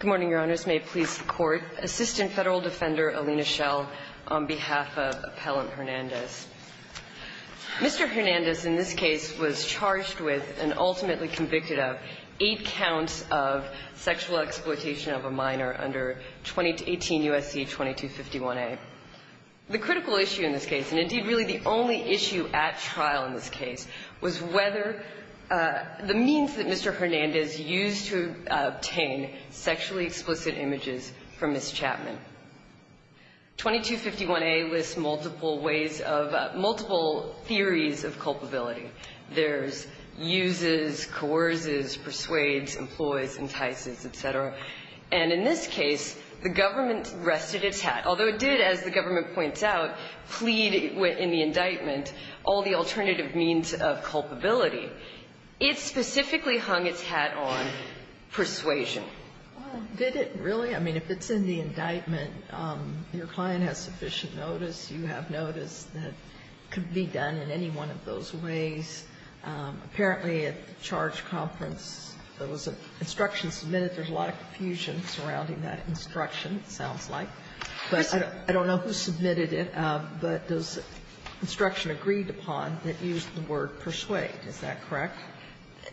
Good morning, Your Honors. May it please the Court, Assistant Federal Defender Alina Schell on behalf of Appellant Hernandez. Mr. Hernandez in this case was charged with and ultimately convicted of eight counts of sexual exploitation of a minor under 2018 USC 2251A. The critical issue in this case, and indeed really the only issue at trial in this case, was whether the means that Mr. Hernandez used to obtain sexually explicit images from Ms. Chapman. 2251A lists multiple ways of, multiple theories of culpability. There's uses, coerces, persuades, employs, entices, etc. And in this case, the government rested its hat, although it did, as the government points out, plead in the indictment, all the alternative means of culpability. It specifically hung its hat on persuasion. Well, did it really? I mean, if it's in the indictment, your client has sufficient notice, you have notice that it could be done in any one of those ways. Apparently, at the charge conference, there was an instruction submitted. There's a lot of confusion surrounding that instruction, it sounds like. But I don't know who submitted it, but those instructions agreed upon that used the word persuade. Is that correct?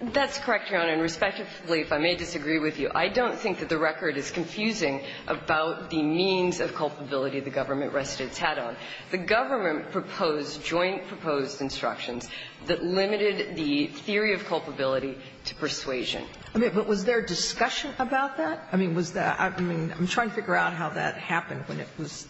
That's correct, Your Honor. And respectively, if I may disagree with you, I don't think that the record is confusing about the means of culpability the government rested its hat on. The government proposed joint proposed instructions that limited the theory of culpability to persuasion. I mean, but was there discussion about that? I mean, was there – I mean, I'm trying to figure out how that happened when it was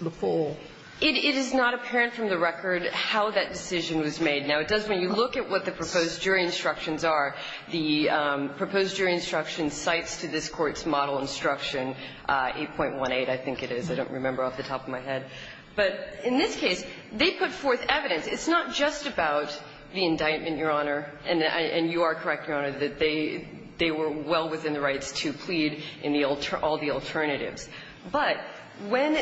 the full – It is not apparent from the record how that decision was made. Now, it does when you look at what the proposed jury instructions are. The proposed jury instruction cites to this Court's model instruction, 8.18, I think it is, I don't remember off the top of my head. But in this case, they put forth evidence. It's not just about the indictment, Your Honor, and you are correct, Your Honor, that they were well within the rights to plead in all the alternatives. But when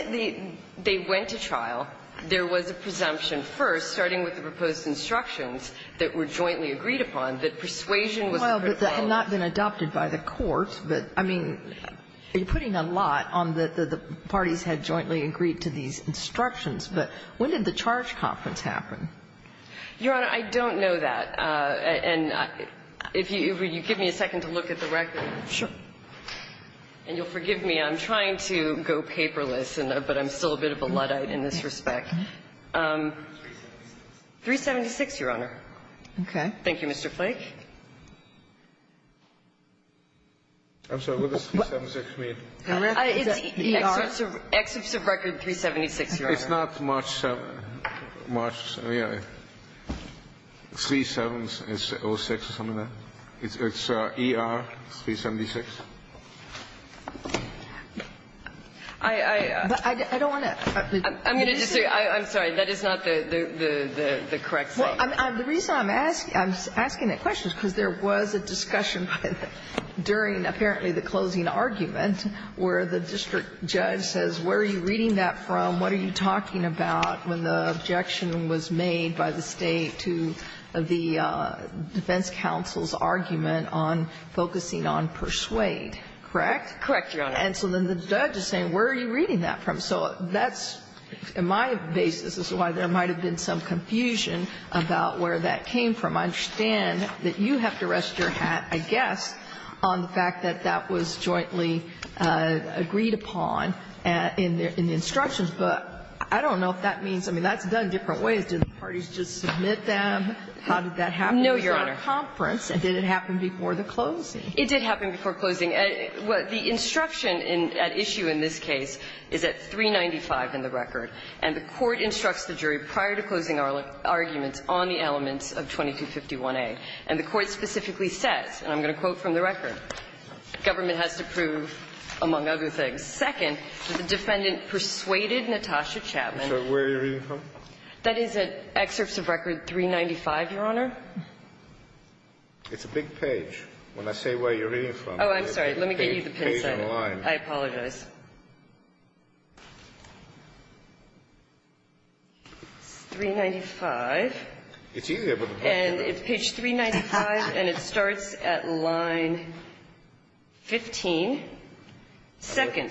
they went to trial, there was a presumption first, starting with the proposed instructions, that were jointly agreed upon, that persuasion was the first – Well, but that had not been adopted by the Court. But, I mean, you're putting a lot on the parties had jointly agreed to these instructions. But when did the charge conference happen? Your Honor, I don't know that. And if you would give me a second to look at the record. Sure. And you'll forgive me, I'm trying to go paperless, but I'm still a bit of a Luddite in this respect. 376, Your Honor. Okay. Thank you, Mr. Flake. I'm sorry, what does 376 mean? It's Excerpt of Record 376, Your Honor. It's not March 7th, March, yeah, 3-7-0-6 or something like that. It's ER 376. I don't want to – I'm going to just say, I'm sorry, that is not the correct thing. Well, the reason I'm asking that question is because there was a discussion during apparently the closing argument where the district judge says, where are you talking about when the objection was made by the State to the defense counsel's argument on focusing on persuade, correct? Correct, Your Honor. And so then the judge is saying, where are you reading that from? So that's, in my basis, is why there might have been some confusion about where that came from. I understand that you have to rest your hat, I guess, on the fact that that was jointly agreed upon in the instructions. But I don't know if that means – I mean, that's done in different ways. Did the parties just submit them? How did that happen? No, Your Honor. It was at a conference, and did it happen before the closing? It did happen before closing. The instruction at issue in this case is at 395 in the record, and the Court instructs the jury prior to closing arguments on the elements of 2251a. And the Court specifically says, and I'm going to quote from the record, government has to prove, among other things, second, that the defendant persuaded Natasha Chapman. So where are you reading from? That is at excerpts of record 395, Your Honor. It's a big page. When I say where you're reading from, it's a page in line. Oh, I'm sorry. Let me get you the pencil. I apologize. It's 395. It's easier with a pencil. And it's page 395, and it starts at line 15. Second,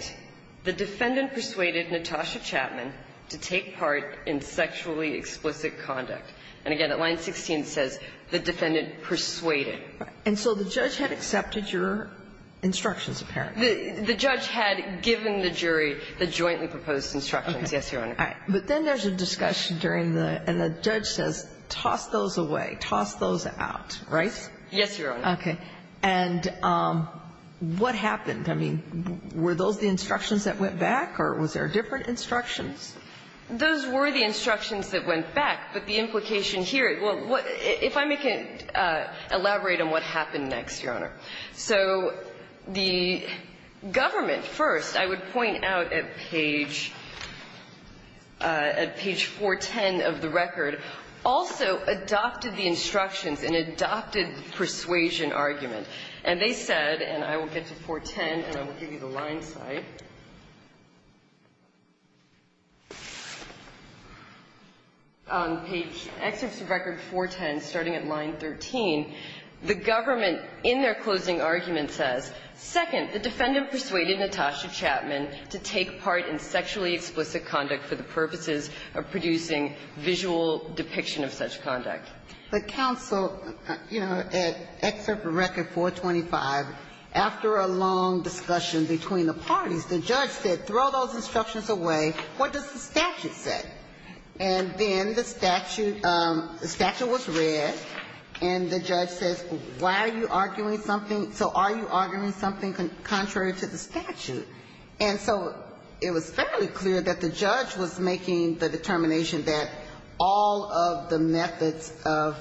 the defendant persuaded Natasha Chapman to take part in sexually explicit conduct. And again, at line 16, it says the defendant persuaded. And so the judge had accepted your instructions, apparently. The judge had given the jury the jointly proposed instructions, yes, Your Honor. All right. But then there's a discussion during the – and the judge says, toss those away, toss those out, right? Yes, Your Honor. Okay. And what happened? I mean, were those the instructions that went back, or was there different instructions? Those were the instructions that went back, but the implication here – well, if I may elaborate on what happened next, Your Honor. So the government, first, I would point out at page – at page 410 of the record, also adopted the instructions and adopted the persuasion argument. And they said – and I will get to 410, and I will give you the line site. On page – excerpts of record 410, starting at line 13, the government, in their closing argument, says, second, the defendant persuaded Natasha Chapman to take part in sexually explicit conduct for the purposes of producing visual depiction of such conduct. But counsel, you know, at excerpt of record 425, after a long discussion between the parties, the judge said, throw those instructions away. What does the statute say? And then the statute – the statute was read, and the judge says, why are you arguing something – so are you arguing something contrary to the statute? And so it was fairly clear that the judge was making the determination that all of the methods of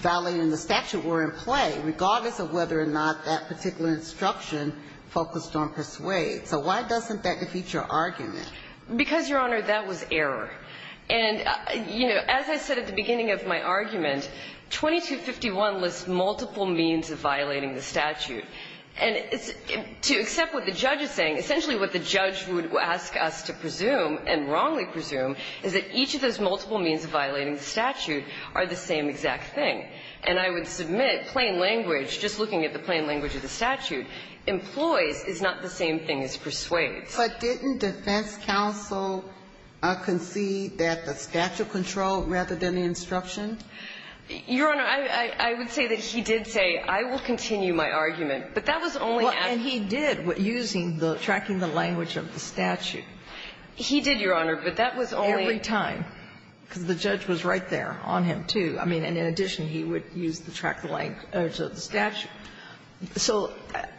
violating the statute were in play, regardless of whether or not that particular instruction focused on persuade. So why doesn't that defeat your argument? Because, Your Honor, that was error. And, you know, as I said at the beginning of my argument, 2251 lists multiple means of violating the statute. And to accept what the judge is saying, essentially what the judge would ask us to presume and wrongly presume is that each of those multiple means of violating the statute are the same exact thing. And I would submit, plain language, just looking at the plain language of the statute, employs is not the same thing as persuades. But didn't defense counsel concede that the statute controlled rather than the instruction? Your Honor, I would say that he did say, I will continue my argument. But that was only after – Well, and he did, using the – tracking the language of the statute. He did, Your Honor, but that was only – Every time, because the judge was right there on him, too. I mean, and in addition, he would use the – track the language of the statute. So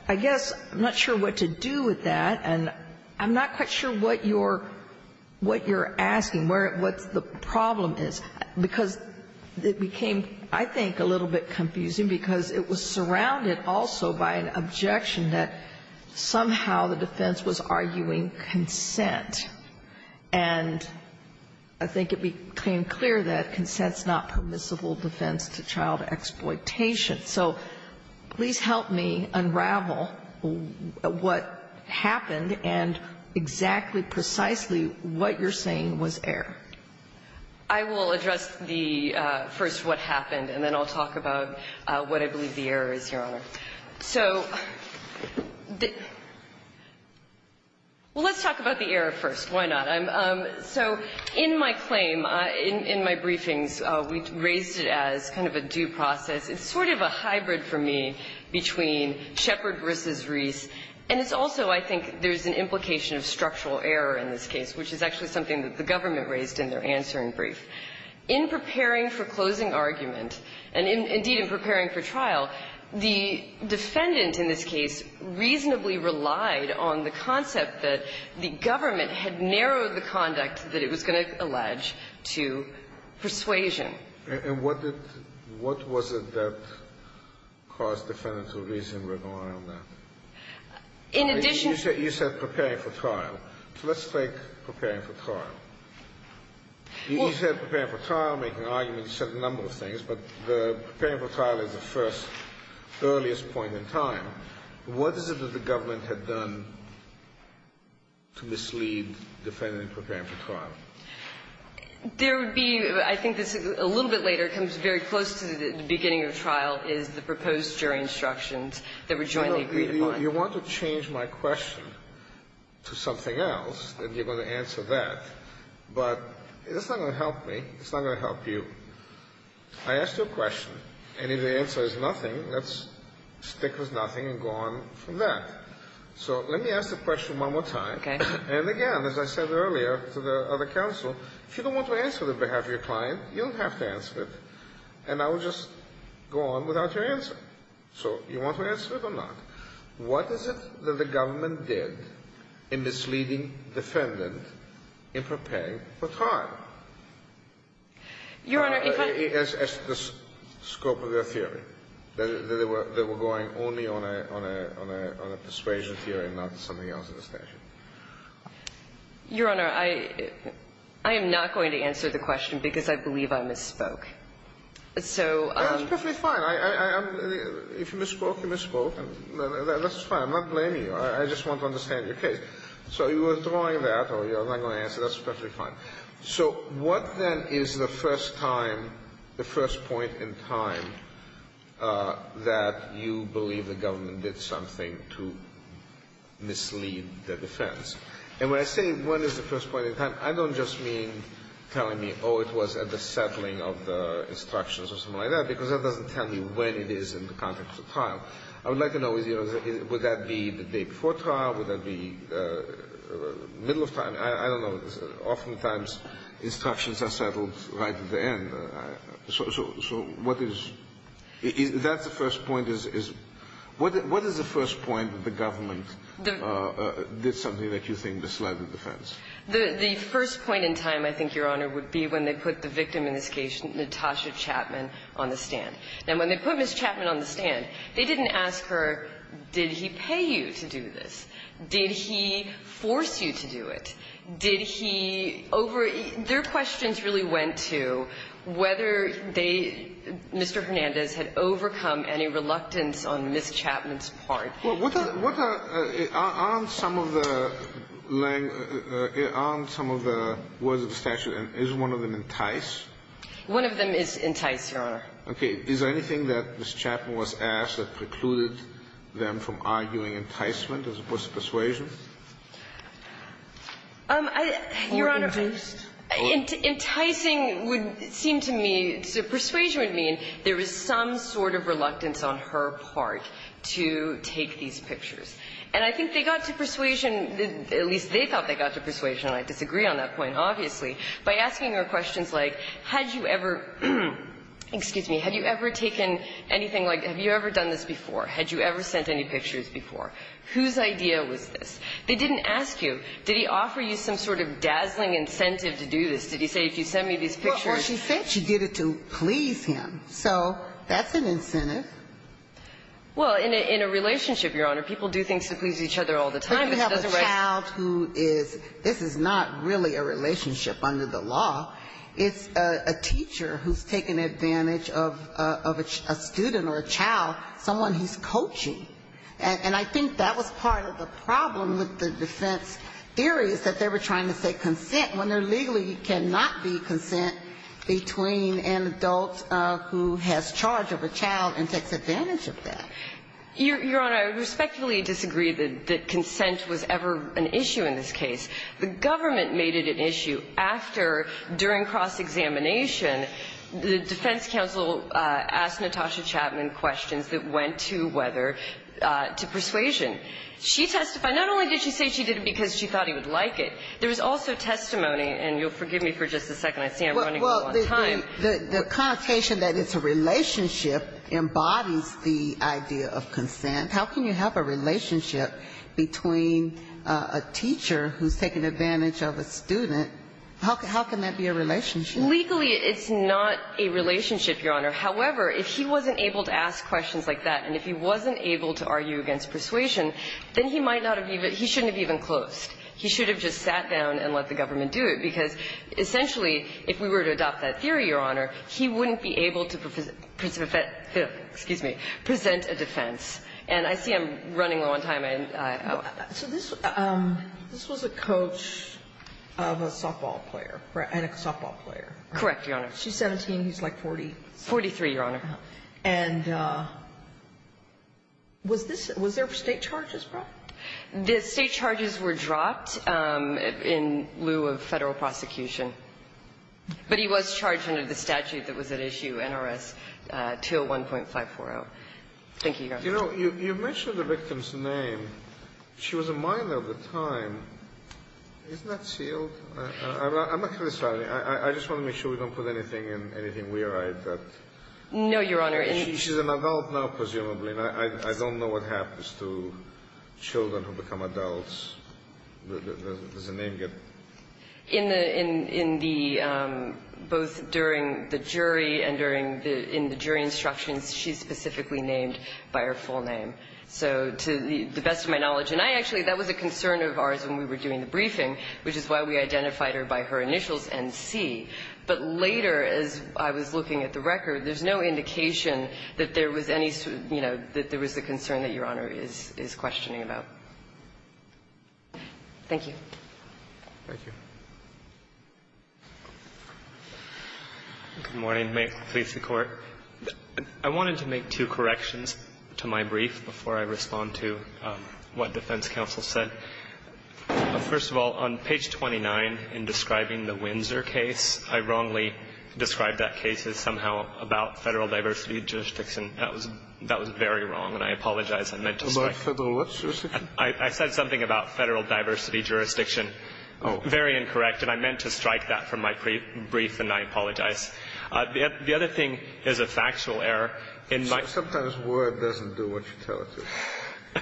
I guess I'm not sure what to do with that, and I'm not quite sure what you're asking, where – what the problem is, because it became, I think, a little bit confusing, because it was surrounded also by an objection that somehow the defense was arguing consent. And I think it became clear that consent's not permissible defense to child exploitation. So please help me unravel what happened and exactly, precisely what you're saying was error. I will address the – first, what happened, and then I'll talk about what I believe the error is, Your Honor. So the – well, let's talk about the error first. Why not? So in my claim, in my briefings, we raised it as kind of a due process. It's sort of a hybrid for me between Shepard v. Reese, and it's also, I think, there's an implication of structural error in this case, which is actually something that the government raised in their answering brief. In preparing for closing argument, and indeed in preparing for trial, the defendant in this case reasonably relied on the concept that the government had narrowed the conduct that it was going to allege to persuasion. And what did – what was it that caused the defendant to reasonably rely on that? In addition to that, you said preparing for trial. So let's take preparing for trial. You said preparing for trial, making arguments, you said a number of things, but the preparing for trial is the first, earliest point in time. What is it that the government had done to mislead the defendant in preparing for trial? There would be, I think this is a little bit later, it comes very close to the beginning of the trial, is the proposed jury instructions that were jointly agreed upon. You want to change my question to something else, and you're going to answer that. But it's not going to help me. It's not going to help you. I asked you a question, and if the answer is nothing, let's stick with nothing and go on from that. So let me ask the question one more time. Okay. And again, as I said earlier to the other counsel, if you don't want to answer on behalf of your client, you don't have to answer it, and I will just go on without your answer. So you want to answer it or not? What is it that the government did in misleading defendant in preparing for trial? Your Honor, in – As the scope of their theory, that they were going only on a – on a persuasion theory and not something else at the station. Your Honor, I am not going to answer the question because I believe I misspoke. So – That's perfectly fine. I'm – if you misspoke, you misspoke. That's fine. I'm not blaming you. I just want to understand your case. So you withdrawing that or you're not going to answer, that's perfectly fine. So what, then, is the first time, the first point in time that you believe the government did something to mislead the defense? And when I say when is the first point in time, I don't just mean telling me, oh, it was at the settling of the instructions or something like that, because that doesn't tell me when it is in the context of trial. I would like to know, you know, would that be the day before trial? Would that be middle of trial? I don't know. Oftentimes, instructions are settled right at the end. So what is – that's the first point is – what is the first point that the government did something that you think misled the defense? The first point in time, I think, Your Honor, would be when they put the victim in this case, Natasha Chapman, on the stand. Now, when they put Ms. Chapman on the stand, they didn't ask her, did he pay you to do this? Did he force you to do it? Did he over – their questions really went to whether they – Mr. Hernandez had overcome any reluctance on Ms. Chapman's part. Well, what are – aren't some of the words of the statute – is one of them entice? One of them is entice, Your Honor. Okay. Is there anything that Ms. Chapman was asked that precluded them from arguing enticement as opposed to persuasion? Your Honor, enticing would seem to me – persuasion would mean there is some sort of reluctance on her part to take these pictures. And I think they got to persuasion – at least they thought they got to persuasion, and I disagree on that point, obviously, by asking her questions like, had you ever – excuse me – had you ever taken anything like – have you ever done this before? Had you ever sent any pictures before? Whose idea was this? They didn't ask you. Did he offer you some sort of dazzling incentive to do this? Did he say, if you send me these pictures – Well, she said she did it to please him. So that's an incentive. Well, in a relationship, Your Honor, people do things to please each other all the time. But you have a child who is – this is not really a relationship under the law. It's a teacher who's taking advantage of a student or a child, someone he's coaching. And I think that was part of the problem with the defense theory, is that they were trying to say consent, when there legally cannot be consent between an adult who has charge of a child and takes advantage of that. Your Honor, I respectfully disagree that consent was ever an issue in this case. The government made it an issue after, during cross-examination, the defense counsel asked Natasha Chapman questions that went to whether – to persuasion. She testified – not only did she say she did it because she thought he would like it. There was also testimony – and you'll forgive me for just a second. I see I'm running out of time. The connotation that it's a relationship embodies the idea of consent. How can you have a relationship between a teacher who's taking advantage of a student? How can that be a relationship? Legally, it's not a relationship, Your Honor. However, if he wasn't able to ask questions like that, and if he wasn't able to argue against persuasion, then he might not have even – he shouldn't have even closed. He should have just sat down and let the government do it, because essentially, if we were to adopt that theory, Your Honor, he wouldn't be able to present a defense. And I see I'm running low on time. So this was a coach of a softball player, right? And a softball player. Correct, Your Honor. She's 17. He's like 40. 43, Your Honor. And was this – was there State charges brought? The State charges were dropped in lieu of Federal prosecution. But he was charged under the statute that was at issue, NRS 201.540. Thank you, Your Honor. You know, you mentioned the victim's name. She was a minor at the time. Isn't that sealed? I'm not going to – I just want to make sure we don't put anything in – anything weir-eyed that – No, Your Honor. She's an adult now, presumably. I don't know what happens to children who become adults. Does the name get – In the – in the – both during the jury and during the – in the jury instructions, she's specifically named by her full name. So, to the best of my knowledge – and I actually – that was a concern of ours when we were doing the briefing, which is why we identified her by her initials NC. But later, as I was looking at the record, there's no indication that there was any sort of – you know, that there was a concern that Your Honor is questioning about. Thank you. Thank you. Good morning. May it please the Court. I wanted to make two corrections to my brief before I respond to what defense counsel said. First of all, on page 29, in describing the Windsor case, I wrongly described that case as somehow about Federal diversity jurisdiction. That was – that was very wrong, and I apologize. I meant to strike – About Federal what jurisdiction? I said something about Federal diversity jurisdiction. Oh. Very incorrect, and I meant to strike that from my brief, and I apologize. The other thing is a factual error. So sometimes word doesn't do what you tell it to.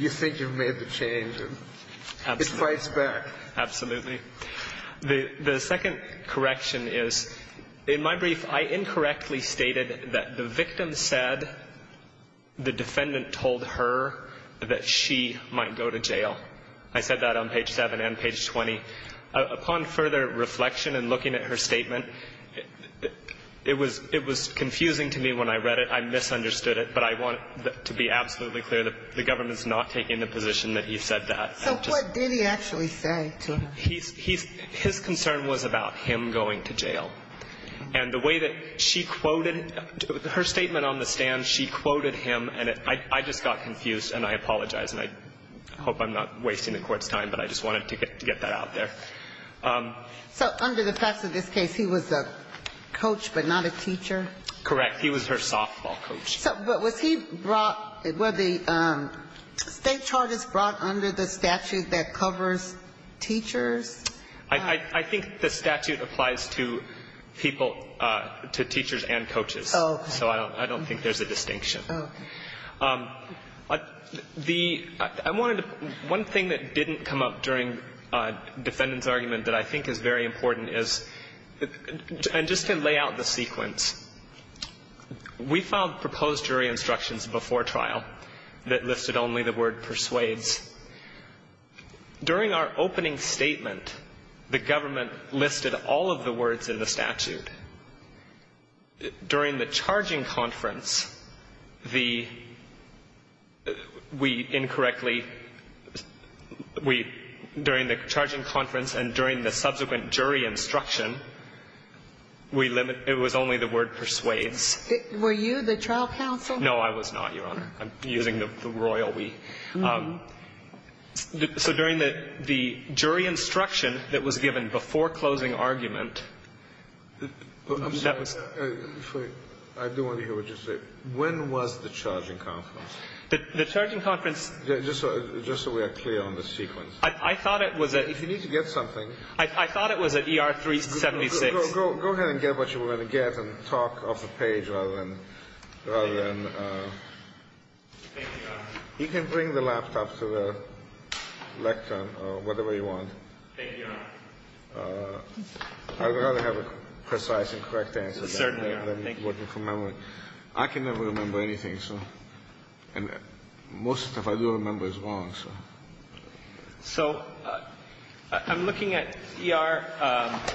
You think you've made the change, and it fights back. Absolutely. The second correction is, in my brief, I incorrectly stated that the victim said the defendant told her that she might go to jail. I said that on page 7 and page 20. Upon further reflection and looking at her statement, it was – it was confusing to me when I read it. I misunderstood it, but I want to be absolutely clear that the government's not taking the position that he said that. So what did he actually say to her? He's – his concern was about him going to jail. And the way that she quoted – her statement on the stand, she quoted him, and I just got confused, and I apologize. And I hope I'm not wasting the Court's time, but I just wanted to get that out there. So under the facts of this case, he was a coach but not a teacher? Correct. He was her softball coach. So was he brought – were the state charges brought under the statute that covers teachers? I think the statute applies to people – to teachers and coaches. Oh, okay. So I don't think there's a distinction. Okay. The – I wanted to – one thing that didn't come up during defendant's argument that I think is very important is – and just to lay out the sequence, we filed proposed jury instructions before trial that listed only the word persuades. During our opening statement, the government listed all of the words in the statute. During the charging conference, the – we incorrectly – we – during the charging conference and during the subsequent jury instruction, we – it was only the word persuades. Were you the trial counsel? No, I was not, Your Honor. I'm using the royal we. I'm sorry. I do want to hear what you say. When was the charging conference? The charging conference – Just so we are clear on the sequence. I thought it was at – If you need to get something – I thought it was at ER 376. Go ahead and get what you want to get and talk off the page rather than – rather than Thank you, Your Honor. I'd rather have a precise and correct answer than working from memory. I can never remember anything, so – and most of the stuff I do remember is wrong, so. So I'm looking at ER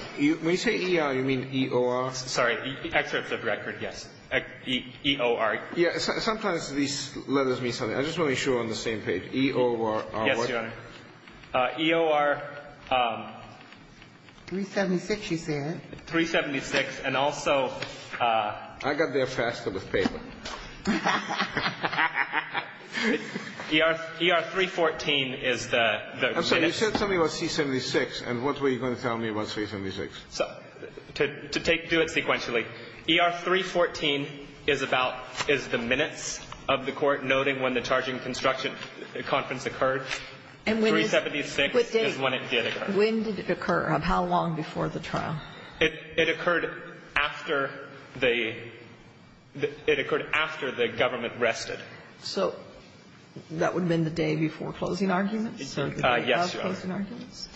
– When you say ER, you mean EOR? Sorry. Excerpts of record, yes. EOR. Yes. Sometimes these letters mean something. I just want to be sure we're on the same page. EOR. Yes, Your Honor. EOR. 376, you said. 376. And also – I got there faster with paper. ER – ER 314 is the – I'm sorry. You said something about C-76, and what were you going to tell me about C-76? So – to take – do it sequentially. ER 314 is about – is the minutes of the court noting when the charging construction conference occurred. 376 is when it did occur. When did it occur? How long before the trial? It occurred after the – it occurred after the government rested. So that would have been the day before closing arguments? Yes, Your Honor. So closing arguments?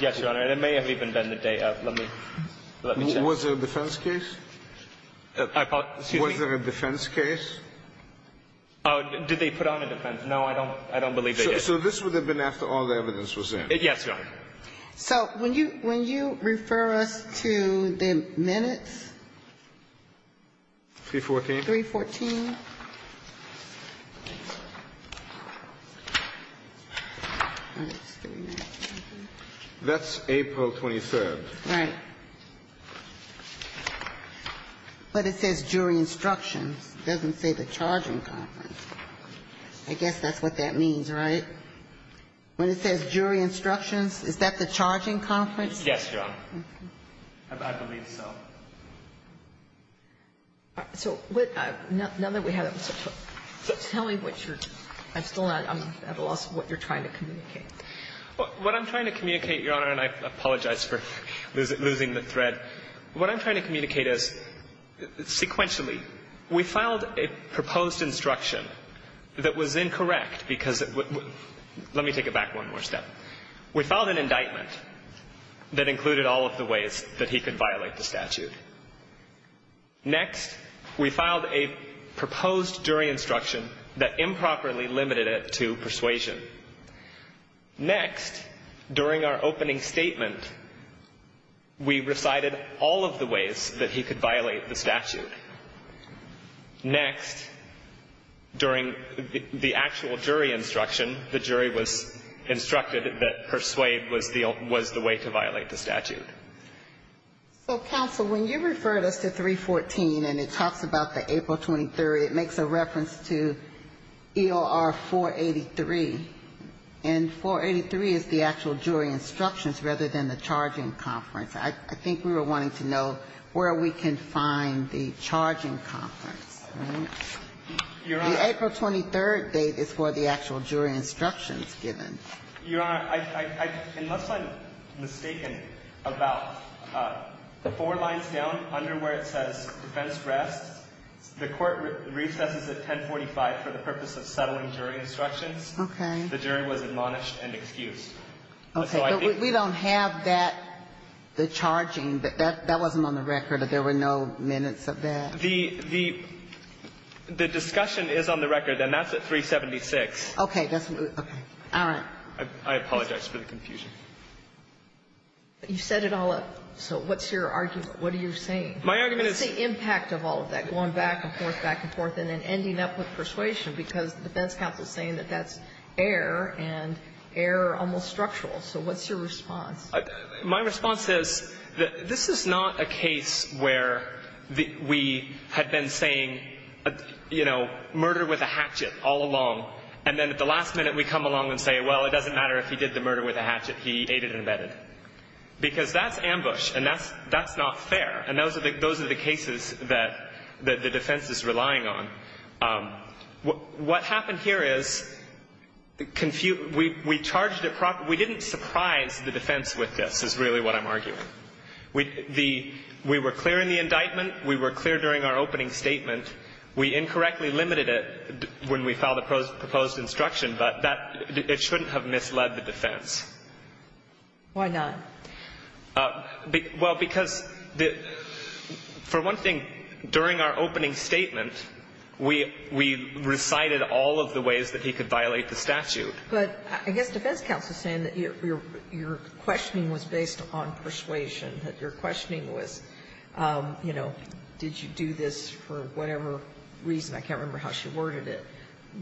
Yes, Your Honor. And it may have even been the day of. Let me – let me check. Was there a defense case? I apologize. Excuse me. Was there a defense case? Oh, did they put on a defense? No, I don't believe they did. So this would have been after all the evidence was in? Yes, Your Honor. So when you – when you refer us to the minutes? 314. 314. That's April 23rd. Right. But it says jury instructions. It doesn't say the charging conference. I guess that's what that means, right? When it says jury instructions, is that the charging conference? Yes, Your Honor. I believe so. So what – now that we have that, tell me what you're – I'm still not – I'm at a loss of what you're trying to communicate. What I'm trying to communicate, Your Honor, and I apologize for losing the thread, what I'm trying to communicate is sequentially we filed a proposed instruction that was incorrect because – let me take it back one more step. We filed an indictment that included all of the ways that he could violate the statute. Next, we filed a proposed jury instruction that improperly limited it to persuasion. Next, during our opening statement, we recited all of the ways that he could violate the statute. Next, during the actual jury instruction, the jury was instructed that persuade was the way to violate the statute. So, counsel, when you referred us to 314 and it talks about the April 23rd, it makes a reference to EOR 483, and 483 is the actual jury instructions rather than the charging conference. I think we were wanting to know where we can find the charging conference. The April 23rd date is where the actual jury instruction is given. Your Honor, unless I'm mistaken about the four lines down under where it says defense rests, the court recesses at 1045 for the purpose of settling jury instructions. Okay. The jury was admonished and excused. Okay. But we don't have that, the charging. That wasn't on the record. There were no minutes of that. The discussion is on the record, and that's at 376. Okay. That's what we're going to do. All right. I apologize for the confusion. But you set it all up. So what's your argument? What are you saying? My argument is the impact of all of that, going back and forth, back and forth, and then ending up with persuasion, because the defense counsel is saying that that's fair and almost structural. So what's your response? My response is that this is not a case where we had been saying, you know, murder with a hatchet all along, and then at the last minute we come along and say, well, it doesn't matter if he did the murder with a hatchet. He aided and abetted. Because that's ambush, and that's not fair. And those are the cases that the defense is relying on. What happened here is we charged it properly. We didn't surprise the defense with this, is really what I'm arguing. We were clear in the indictment. We were clear during our opening statement. We incorrectly limited it when we filed the proposed instruction. But it shouldn't have misled the defense. Why not? Well, because the — for one thing, during our opening statement, we recited all of the ways that he could violate the statute. But I guess defense counsel is saying that your questioning was based on persuasion, that your questioning was, you know, did you do this for whatever reason? I can't remember how she worded it.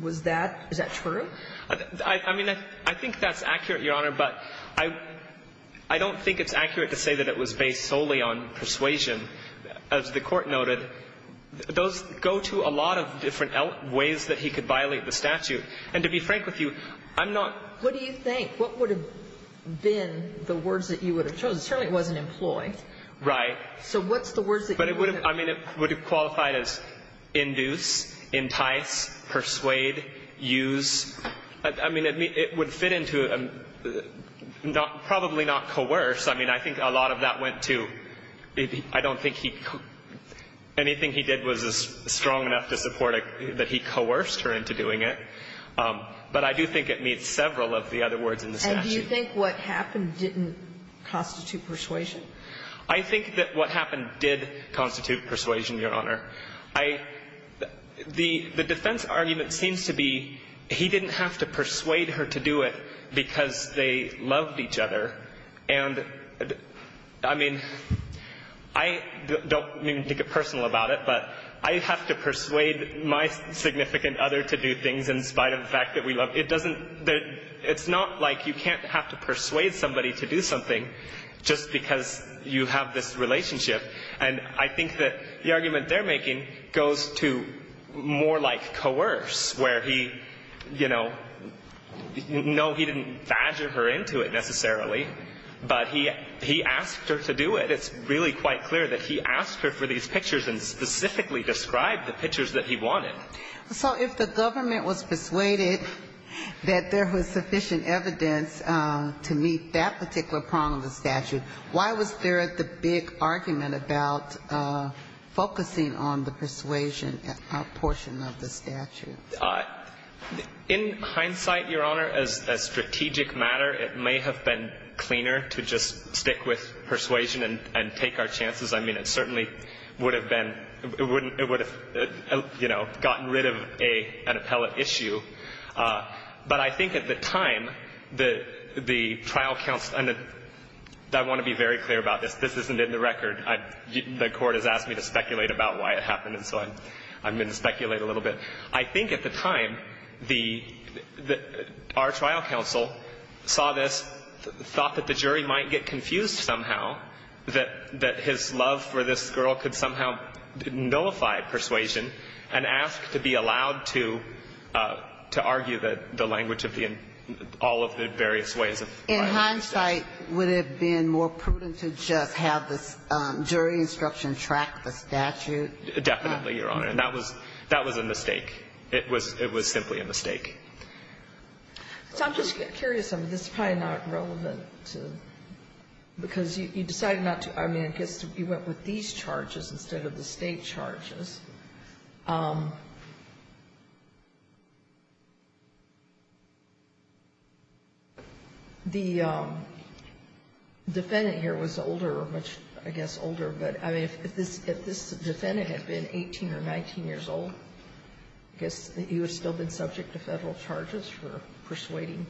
Was that — is that true? I mean, I think that's accurate, Your Honor, but I don't think it's accurate to say that it was based solely on persuasion. As the Court noted, those go to a lot of different ways that he could violate the statute. And to be frank with you, I'm not — What do you think? What would have been the words that you would have chosen? Certainly it wasn't employed. Right. So what's the words that you would have — I mean, it would fit into a — probably not coerce. I mean, I think a lot of that went to — I don't think he — anything he did was strong enough to support that he coerced her into doing it. But I do think it meets several of the other words in the statute. And do you think what happened didn't constitute persuasion? I think that what happened did constitute persuasion, Your Honor. I — the defense argument seems to be he didn't have to persuade her to do it because they loved each other. And I mean, I don't mean to get personal about it, but I have to persuade my significant other to do things in spite of the fact that we love — it doesn't — it's not like you can't have to persuade somebody to do something just because you have this relationship. And I think that the argument they're making goes to more like coerce, where he — you know, no, he didn't badger her into it necessarily, but he asked her to do it. It's really quite clear that he asked her for these pictures and specifically described the pictures that he wanted. So if the government was persuaded that there was sufficient evidence to meet that particular prong of the statute, why was there the big argument about focusing on the persuasion portion of the statute? In hindsight, Your Honor, as a strategic matter, it may have been cleaner to just stick with persuasion and take our chances. I mean, it certainly would have been — it wouldn't — it would have, you know, gotten rid of an appellate issue. But I think at the time, the trial — and I want to be very clear about this. This isn't in the record. The court has asked me to speculate about why it happened, and so I'm going to speculate a little bit. I think at the time, the — our trial counsel saw this, thought that the jury might get confused somehow, that his love for this girl could somehow nullify persuasion, and asked to be allowed to argue that the language of the — all of the various ways of filing the case. In hindsight, would it have been more prudent to just have the jury instruction track the statute? Definitely, Your Honor. And that was — that was a mistake. It was — it was simply a mistake. So I'm just curious. I mean, this is probably not relevant to — because you decided not to — I mean, I guess you went with these charges instead of the State charges. The defendant here was older, much, I guess, older. But, I mean, if this — if this defendant had been 18 or 19 years old, I guess he would still have been subject to Federal charges for persuading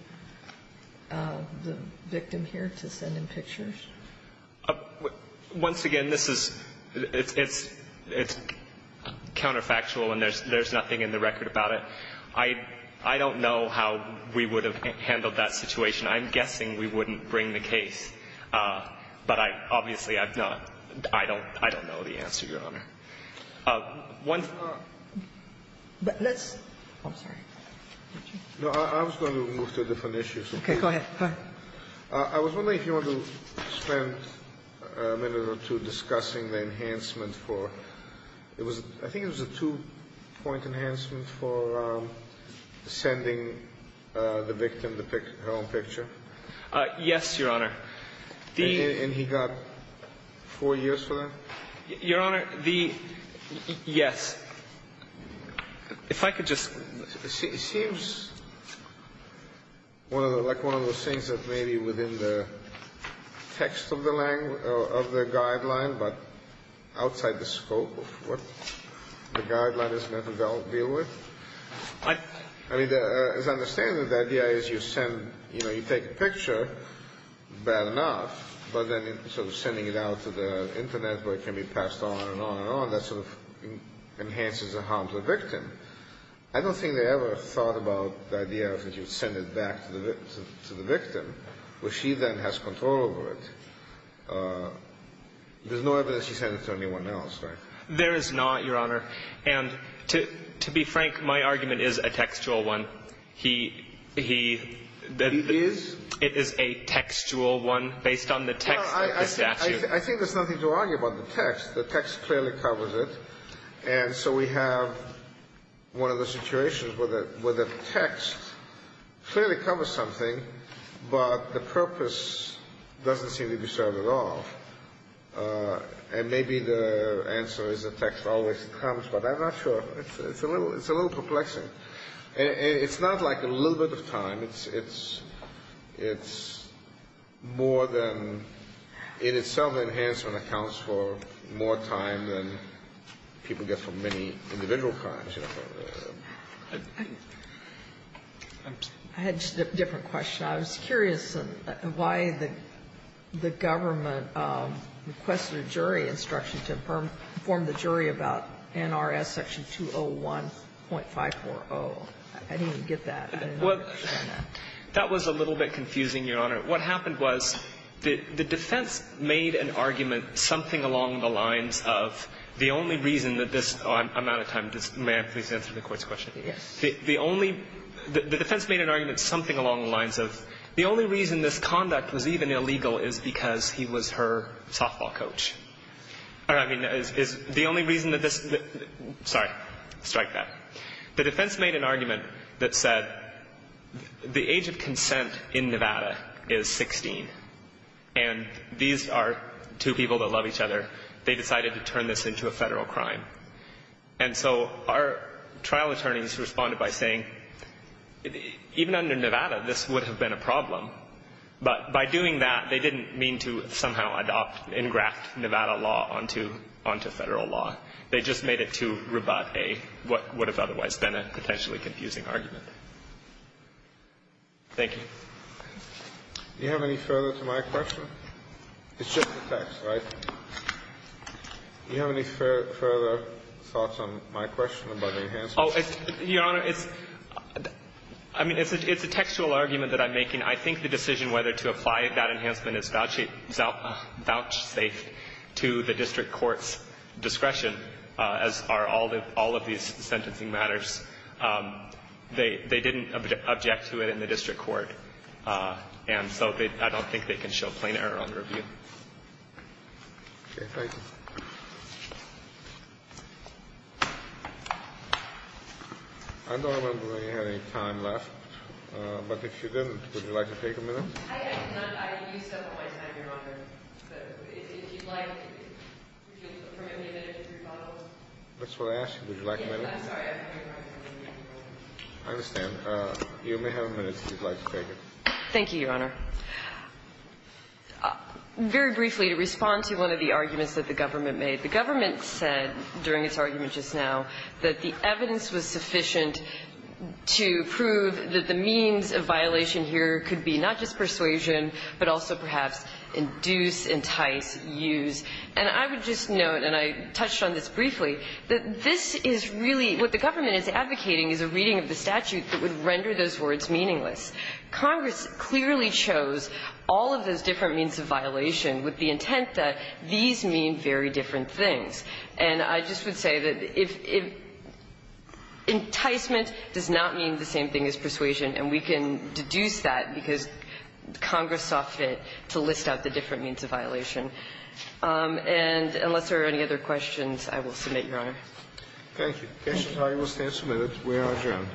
the victim here to send him pictures? Once again, this is — it's counterfactual, and there's nothing in the record about it. I don't know how we would have handled that situation. I'm guessing we wouldn't bring the case. But I — obviously, I've not — I don't know the answer, Your Honor. One — But let's — I'm sorry. No, I was going to move to a different issue. Okay. Go ahead. Hi. I was wondering if you wanted to spend a minute or two discussing the enhancement for — it was — I think it was a two-point enhancement for sending the victim her own picture. Yes, Your Honor. And he got four years for that? Your Honor, the — yes. If I could just — It seems one of the — like one of those things that maybe within the text of the language — of the guideline, but outside the scope of what the guideline is meant to deal with. I — I mean, as I understand it, the idea is you send — you know, you take a picture, bad enough, but then sort of sending it out to the Internet, where it can be passed on and on and on. That sort of enhances the harm to the victim. I don't think they ever thought about the idea of that you would send it back to the victim, where she then has control over it. There's no evidence you send it to anyone else, right? There is not, Your Honor. And to be frank, my argument is a textual one. He — that — It is? It is a textual one, based on the text of the statute. I think there's nothing to argue about the text. The text clearly covers it. And so we have one of the situations where the text clearly covers something, but the purpose doesn't seem to be served at all. And maybe the answer is the text always comes, but I'm not sure. It's a little — it's a little perplexing. It's not like a little bit of time. It's — it's more than — in itself, the enhancement accounts for more time than people get from many individual crimes. I had just a different question. I was curious why the government requested a jury instruction to inform the jury about NRS Section 201.540. I didn't even get that. Well, that was a little bit confusing, Your Honor. What happened was the defense made an argument something along the lines of the only reason that this — I'm out of time. May I please answer the Court's question? Yes. The only — the defense made an argument something along the lines of the only reason this conduct was even illegal is because he was her softball coach. I mean, is the only reason that this — sorry. Strike that. The defense made an argument that said the age of consent in Nevada is 16, and these are two people that love each other. They decided to turn this into a federal crime. And so our trial attorneys responded by saying, even under Nevada, this would have been a problem, but by doing that, they didn't mean to somehow adopt and graft Nevada law onto federal law. They just made it to Rabat A, what would have otherwise been a potentially confusing argument. Thank you. Do you have any further to my question? It's just the text, right? Do you have any further thoughts on my question about enhancement? Oh, Your Honor, it's — I mean, it's a textual argument that I'm making. I think the decision whether to apply that enhancement is vouchsafe to the district court's discretion, as are all of these sentencing matters. They didn't object to it in the district court, and so I don't think they can show plain error under review. Okay. Thank you. I don't remember that you had any time left. But if you didn't, would you like to take a minute? I have none. I used up all my time, Your Honor. But if you'd like, would you permit me a minute to rebuttal? That's what I asked. Would you like a minute? Yes. I'm sorry. I have no time. I understand. You may have a minute, if you'd like to take it. Thank you, Your Honor. Very briefly, to respond to one of the arguments that the government made. The government said during its argument just now that the evidence was sufficient to prove that the means of violation here could be not just persuasion, but also perhaps induce, entice, use. And I would just note, and I touched on this briefly, that this is really what the government is advocating is a reading of the statute that would render those words meaningless. Congress clearly chose all of those different means of violation with the intent that these mean very different things. And I just would say that if enticement does not mean the same thing as persuasion, and we can deduce that because Congress saw fit to list out the different means of violation. And unless there are any other questions, I will submit, Your Honor. Thank you. The case is highly substantive. We are adjourned.